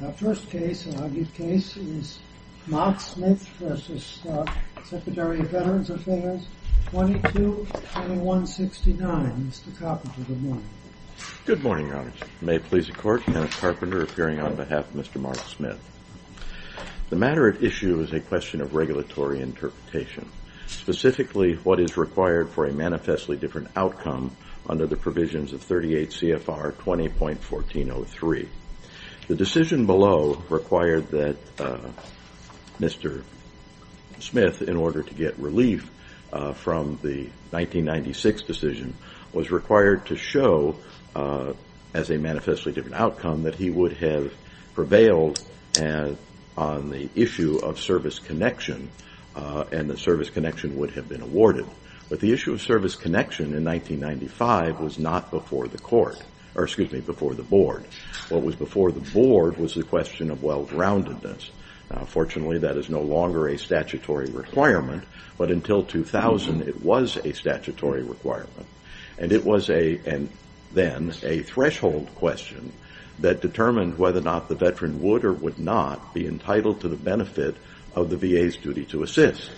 The matter at issue is a question of regulatory interpretation, specifically what is required for a manifestly different outcome under the provisions of 38 CFR 20.1403. The decision below required that Mr. Smith, in order to get relief from the 1996 decision, was required to show as a manifestly different outcome that he would have prevailed on the issue of service connection and the service connection would have been awarded. But the issue of service connection in 1995 was not before the board. What was before the board was the question of well-roundedness. Fortunately, that is no longer a statutory requirement, but until 2000 it was a statutory requirement. And it was then a threshold question that determined whether or not the veteran would or would not be entitled to the benefit of the VA's duty to assist.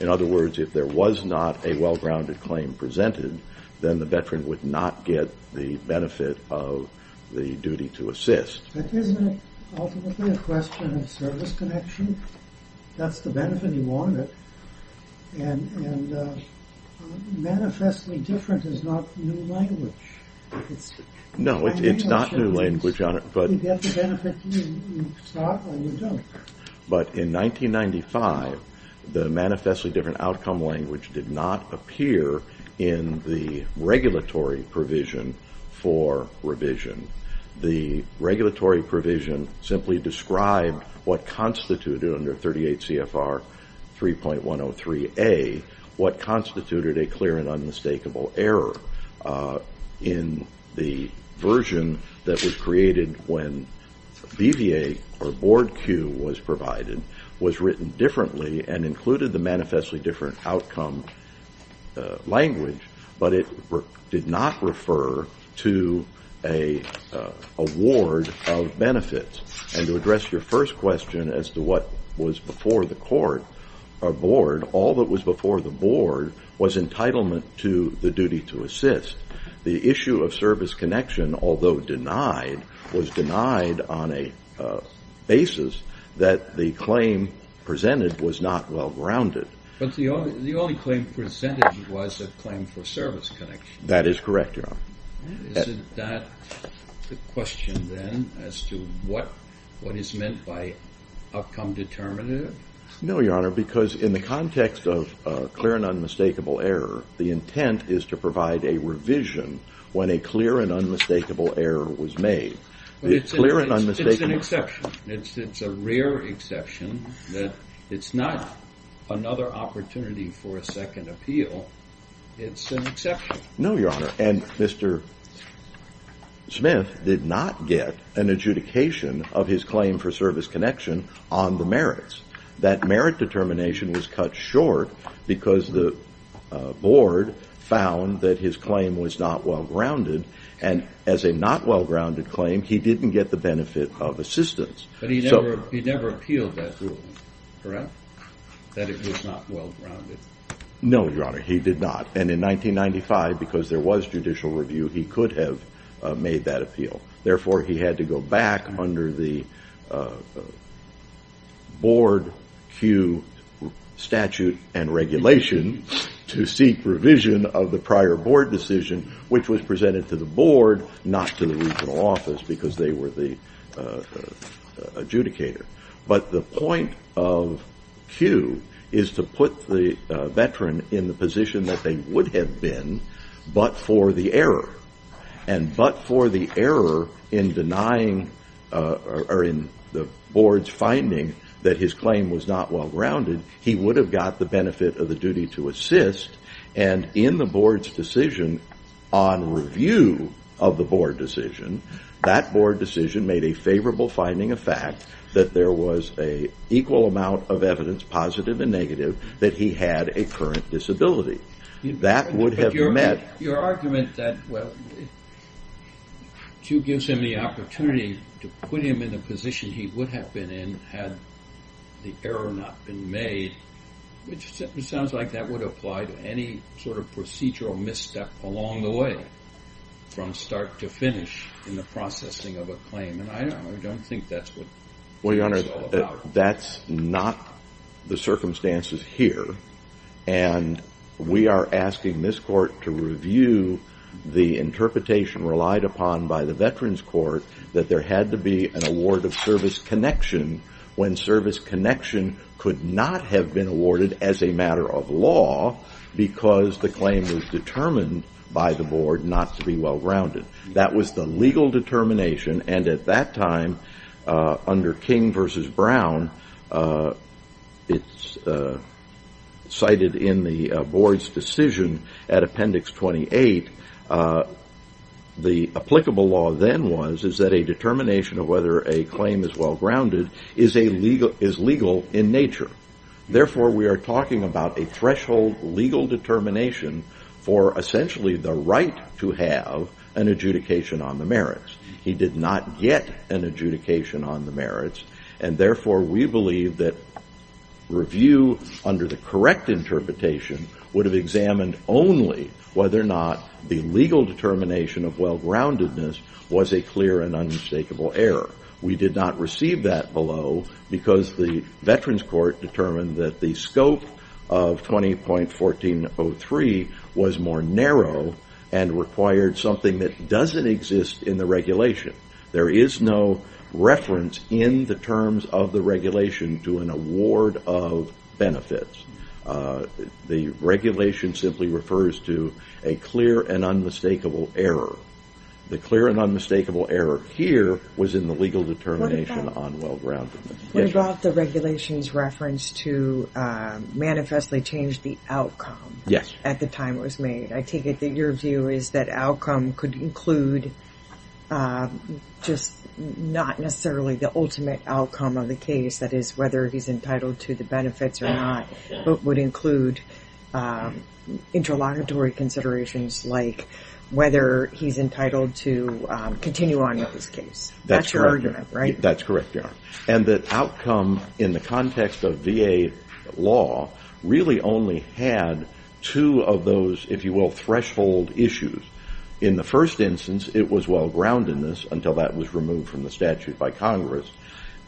In other words, if there was not a well-rounded claim presented, then the veteran would not get the benefit of the duty to assist. But isn't it ultimately a question of service connection? That's the benefit you wanted. And manifestly different is not new language. No, it's not new language. You get the benefit you sought and you don't. But in 1995, the manifestly different outcome language did not appear in the regulatory provision for revision. The regulatory provision simply described what constituted under 38 CFR 3.103A, what constituted a clear and unmistakable error. in the version that was created when BVA or board Q was provided was written differently and included the manifestly different outcome language, but it did not refer to an award of benefits. And to address your first question as to what was before the court or board, all that was before the board was entitlement to the duty to assist. The issue of service connection, although denied, was denied on a basis that the claim presented was not well-rounded. But the only claim presented was a claim for service connection. That is correct, Your Honor. Is that the question then as to what is meant by outcome determinative? No, Your Honor, because in the context of clear and unmistakable error, the intent is to provide a revision when a clear and unmistakable error was made. It's an exception. It's a rare exception. It's not another opportunity for a second appeal. It's an exception. No, Your Honor, and Mr. Smith did not get an adjudication of his claim for service connection on the merits. That merit determination was cut short because the board found that his claim was not well-rounded, and as a not well-rounded claim, he didn't get the benefit of assistance. But he never appealed that ruling, correct, that it was not well-rounded? No, Your Honor, he did not, and in 1995, because there was judicial review, he could have made that appeal. Therefore, he had to go back under the board Q statute and regulation to seek revision of the prior board decision, which was presented to the board, not to the regional office, because they were the adjudicator. But the point of Q is to put the veteran in the position that they would have been but for the error, and but for the error in denying or in the board's finding that his claim was not well-rounded, he would have got the benefit of the duty to assist. And in the board's decision, on review of the board decision, that board decision made a favorable finding of fact that there was an equal amount of evidence, positive and negative, that he had a current disability. But your argument that, well, Q gives him the opportunity to put him in the position he would have been in had the error not been made, which sounds like that would apply to any sort of procedural misstep along the way, from start to finish in the processing of a claim, and I don't think that's what it's all about. That's not the circumstances here, and we are asking this court to review the interpretation relied upon by the veterans court that there had to be an award of service connection when service connection could not have been awarded as a matter of law because the claim was determined by the board not to be well-rounded. That was the legal determination, and at that time, under King v. Brown, it's cited in the board's decision at Appendix 28, the applicable law then was is that a determination of whether a claim is well-rounded is legal in nature. Therefore, we are talking about a threshold legal determination for essentially the right to have an adjudication on the merits. He did not get an adjudication on the merits, and therefore, we believe that review under the correct interpretation would have examined only whether or not the legal determination of well-roundedness was a clear and unmistakable error. We did not receive that below because the veterans court determined that the scope of 20.1403 was more narrow and required something that doesn't exist in the regulation. There is no reference in the terms of the regulation to an award of benefits. The regulation simply refers to a clear and unmistakable error. The clear and unmistakable error here was in the legal determination on well-roundedness. What about the regulation's reference to manifestly change the outcome at the time it was made? I take it that your view is that outcome could include just not necessarily the ultimate outcome of the case. That is whether he's entitled to the benefits or not, but would include interlocutory considerations like whether he's entitled to continue on with his case. That's your argument, right? That's correct, Your Honor. The outcome in the context of VA law really only had two of those, if you will, threshold issues. In the first instance, it was well-groundedness until that was removed from the statute by Congress.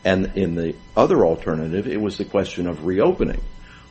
In the other alternative, it was the question of reopening,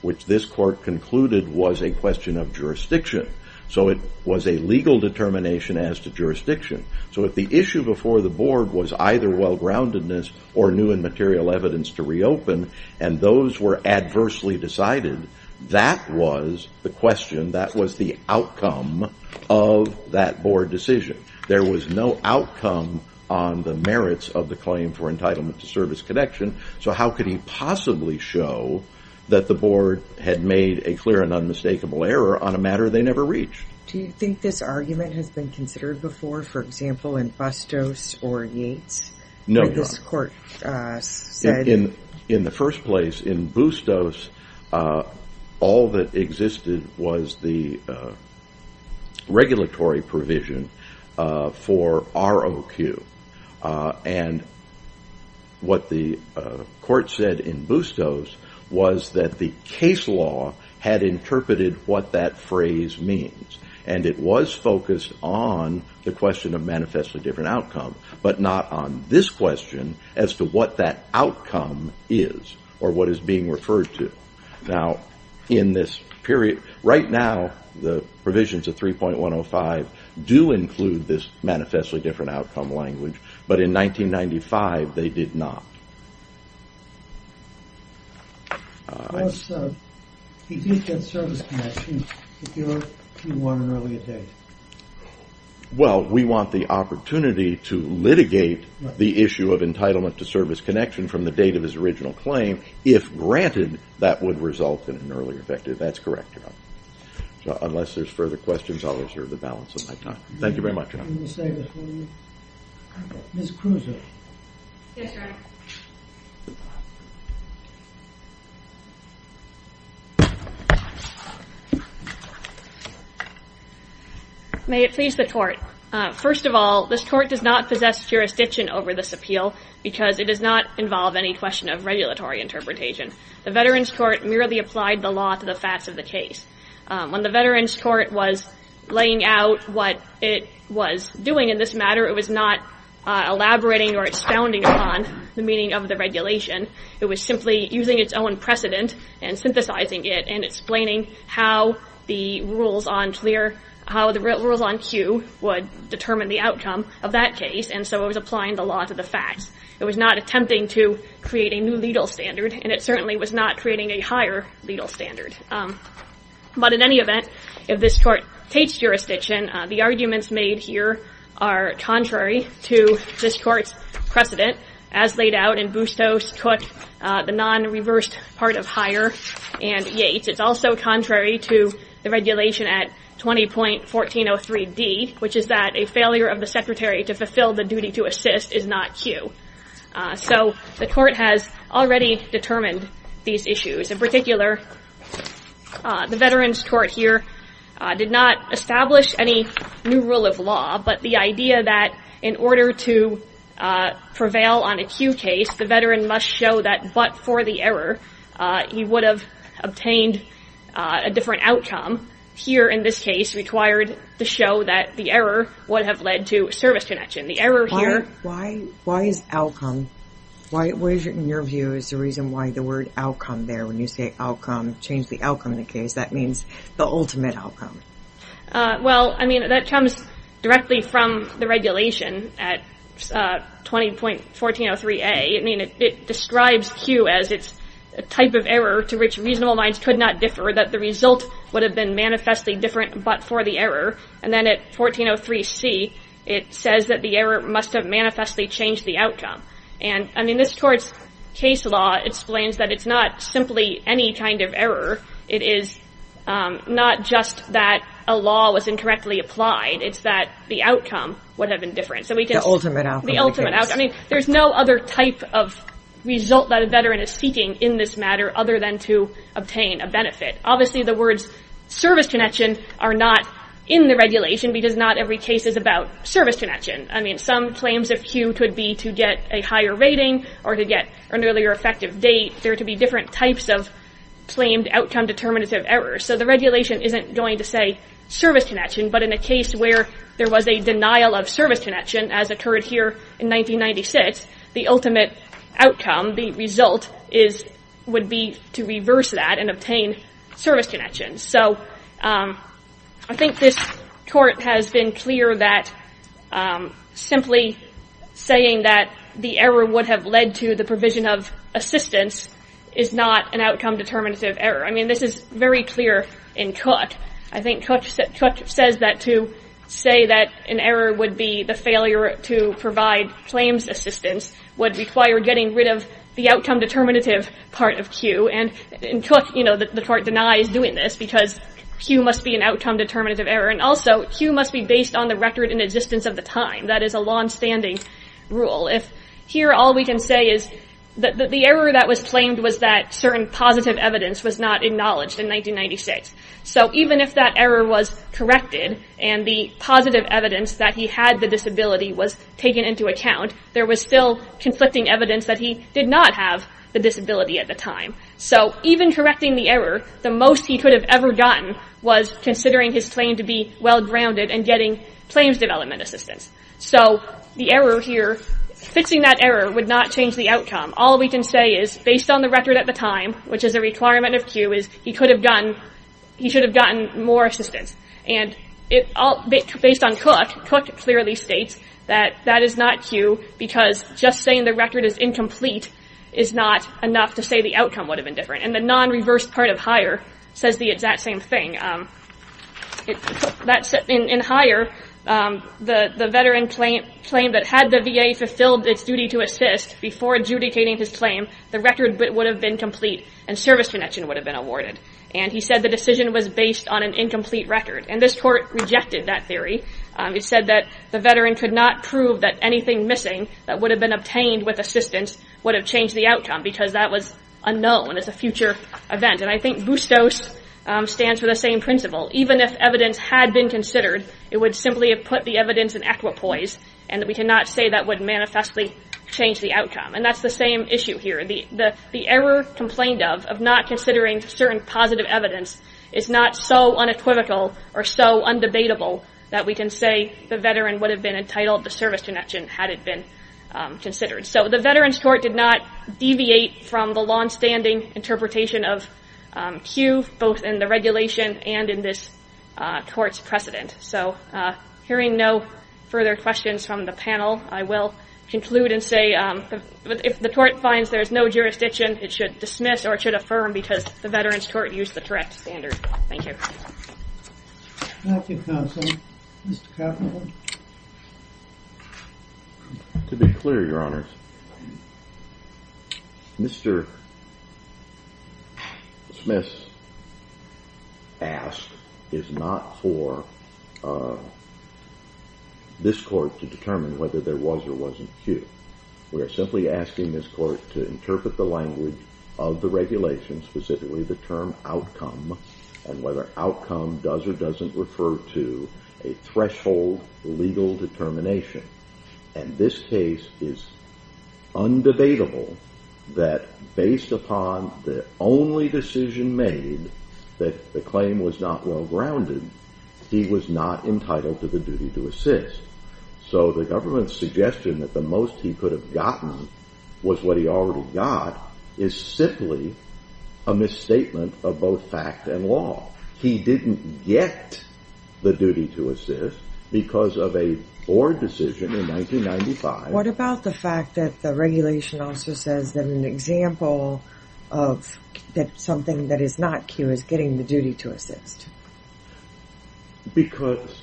which this court concluded was a question of jurisdiction. It was a legal determination as to jurisdiction. If the issue before the board was either well-groundedness or new and material evidence to reopen and those were adversely decided, that was the question. That was the outcome of that board decision. There was no outcome on the merits of the claim for entitlement to service connection, so how could he possibly show that the board had made a clear and unmistakable error on a matter they never reached? Do you think this argument has been considered before, for example, in Bustos or Yates? No, Your Honor. In the first place, in Bustos, all that existed was the regulatory provision for ROQ. What the court said in Bustos was that the case law had interpreted what that phrase means, and it was focused on the question of manifestly different outcome, but not on this question as to what that outcome is or what is being referred to. Right now, the provisions of 3.105 do include this manifestly different outcome language, but in 1995, they did not. He did get service connection. Do you want an earlier date? Well, we want the opportunity to litigate the issue of entitlement to service connection from the date of his original claim, if granted that would result in an earlier victim. That's correct, Your Honor. Unless there's further questions, I'll reserve the balance of my time. Thank you very much, Your Honor. Ms. Kruse. Yes, Your Honor. May it please the court. First of all, this court does not possess jurisdiction over this appeal because it does not involve any question of regulatory interpretation. The Veterans Court merely applied the law to the facts of the case. When the Veterans Court was laying out what it was doing in this matter, it was not elaborating or expounding upon the meaning of the regulation. It was simply using its own precedent and synthesizing it and explaining how the rules on Q would determine the outcome of that case, and so it was applying the law to the facts. It was not attempting to create a new legal standard, and it certainly was not creating a higher legal standard. But in any event, if this court takes jurisdiction, the arguments made here are contrary to this court's precedent, as laid out in Bustos, Cook, the non-reversed part of Hire, and Yates. It's also contrary to the regulation at 20.1403D, which is that a failure of the secretary to fulfill the duty to assist is not Q. So the court has already determined these issues. In particular, the Veterans Court here did not establish any new rule of law, but the idea that in order to prevail on a Q case, the veteran must show that but for the error, he would have obtained a different outcome, here in this case required to show that the error would have led to a service connection. The error here- Why is outcome? What, in your view, is the reason why the word outcome there? When you say outcome, change the outcome in the case, that means the ultimate outcome. Well, I mean, that comes directly from the regulation at 20.1403A. I mean, it describes Q as it's a type of error to which reasonable minds could not differ, that the result would have been manifestly different but for the error. And then at 20.1403C, it says that the error must have manifestly changed the outcome. And, I mean, this court's case law explains that it's not simply any kind of error. It is not just that a law was incorrectly applied. It's that the outcome would have been different. The ultimate outcome. The ultimate outcome. I mean, there's no other type of result that a veteran is seeking in this matter other than to obtain a benefit. Obviously, the words service connection are not in the regulation because not every case is about service connection. I mean, some claims of Q could be to get a higher rating or to get an earlier effective date. There could be different types of claimed outcome determinative errors. So the regulation isn't going to say service connection, but in a case where there was a denial of service connection, as occurred here in 1996, the ultimate outcome, the result, would be to reverse that and obtain service connection. So I think this court has been clear that simply saying that the error would have led to the provision of assistance is not an outcome determinative error. I mean, this is very clear in Cook. I think Cook says that to say that an error would be the failure to provide claims assistance would require getting rid of the outcome determinative part of Q. And in Cook, you know, the court denies doing this because Q must be an outcome determinative error. And also, Q must be based on the record and existence of the time. That is a longstanding rule. If here all we can say is that the error that was claimed was that certain positive evidence was not acknowledged in 1996. So even if that error was corrected and the positive evidence that he had the disability was taken into account, there was still conflicting evidence that he did not have the disability at the time. So even correcting the error, the most he could have ever gotten was considering his claim to be well-grounded and getting claims development assistance. So the error here, fixing that error would not change the outcome. All we can say is, based on the record at the time, which is a requirement of Q, is he should have gotten more assistance. And based on Cook, Cook clearly states that that is not Q because just saying the record is incomplete is not enough to say the outcome would have been different. And the non-reversed part of Hire says the exact same thing. In Hire, the veteran claimed that had the VA fulfilled its duty to assist before adjudicating his claim, the record would have been complete and service connection would have been awarded. And he said the decision was based on an incomplete record. And this court rejected that theory. It said that the veteran could not prove that anything missing that would have been obtained with assistance would have changed the outcome because that was unknown as a future event. And I think BUSTOS stands for the same principle. Even if evidence had been considered, it would simply have put the evidence in equipoise, and we cannot say that would manifestly change the outcome. And that's the same issue here. The error complained of, of not considering certain positive evidence, is not so unequivocal or so undebatable that we can say the veteran would have been entitled to service connection had it been considered. So the Veterans Court did not deviate from the longstanding interpretation of Q, both in the regulation and in this court's precedent. So hearing no further questions from the panel, I will conclude and say if the court finds there's no jurisdiction, it should dismiss or it should affirm because the Veterans Court used the correct standard. Thank you. Thank you, counsel. Mr. Kavanaugh. To be clear, Your Honors, Mr. Smith asked, is not for this court to determine whether there was or wasn't Q. We are simply asking this court to interpret the language of the regulation, specifically the term outcome, and whether outcome does or doesn't refer to a threshold legal determination. And this case is undebatable that based upon the only decision made that the claim was not well grounded, he was not entitled to the duty to assist. So the government's suggestion that the most he could have gotten was what he already got is simply a misstatement of both fact and law. He didn't get the duty to assist because of a board decision in 1995. But what about the fact that the regulation also says that an example of something that is not Q is getting the duty to assist? Because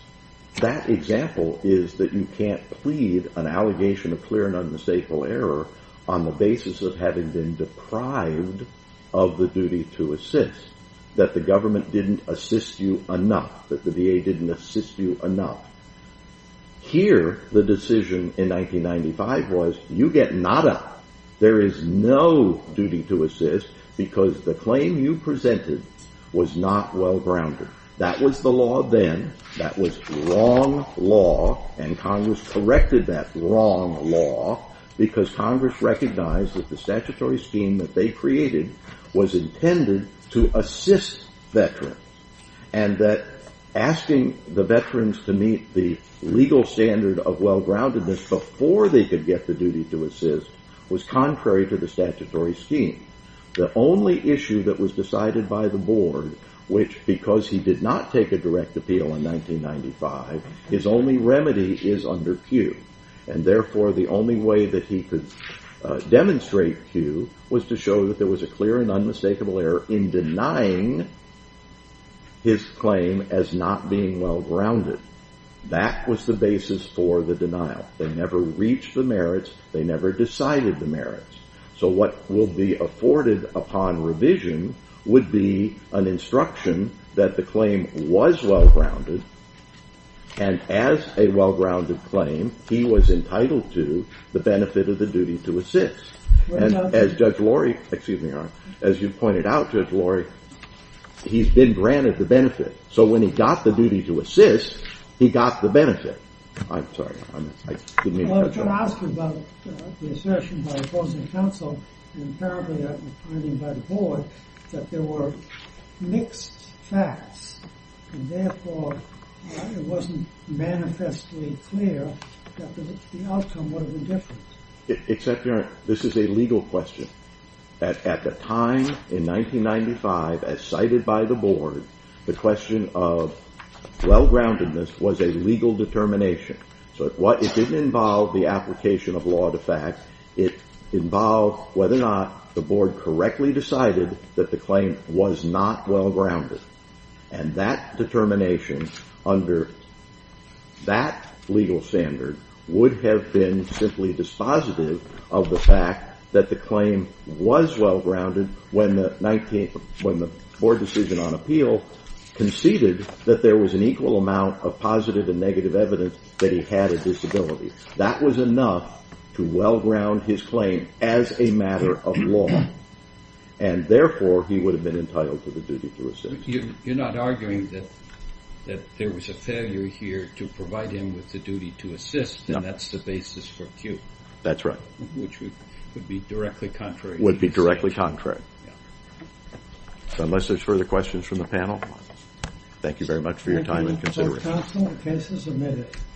that example is that you can't plead an allegation of clear and unmistakable error on the basis of having been deprived of the duty to assist, that the government didn't assist you enough, that the VA didn't assist you enough. Here, the decision in 1995 was you get nada. There is no duty to assist because the claim you presented was not well grounded. That was the law then. That was wrong law, and Congress corrected that wrong law because Congress recognized that the statutory scheme that they created was intended to assist veterans and that asking the veterans to meet the legal standard of well groundedness before they could get the duty to assist was contrary to the statutory scheme. The only issue that was decided by the board, which because he did not take a direct appeal in 1995, his only remedy is under Q, and therefore the only way that he could demonstrate Q was to show that there was a clear and unmistakable error in denying his claim as not being well grounded. That was the basis for the denial. They never reached the merits. They never decided the merits. So what will be afforded upon revision would be an instruction that the claim was well grounded, and as a well grounded claim, he was entitled to the benefit of the duty to assist. And as Judge Lorry, excuse me, as you pointed out, Judge Lorry, he's been granted the benefit. So when he got the duty to assist, he got the benefit. I'm sorry. I didn't mean to cut you off. Well, I was going to ask you about the assertion by opposing counsel and apparently I mean by the board, that there were mixed facts, and therefore it wasn't manifestly clear that the outcome would have been different. This is a legal question. At the time in 1995, as cited by the board, the question of well groundedness was a legal determination. So it didn't involve the application of law to fact. It involved whether or not the board correctly decided that the claim was not well grounded, and that determination under that legal standard would have been simply dispositive of the fact that the claim was well grounded when the board decision on appeal conceded that there was an equal amount of positive and negative evidence that he had a disability. That was enough to well ground his claim as a matter of law, and therefore he would have been entitled to the duty to assist. So you're not arguing that there was a failure here to provide him with the duty to assist, and that's the basis for Q? That's right. Which would be directly contrary. Would be directly contrary. So unless there's further questions from the panel, thank you very much for your time and consideration.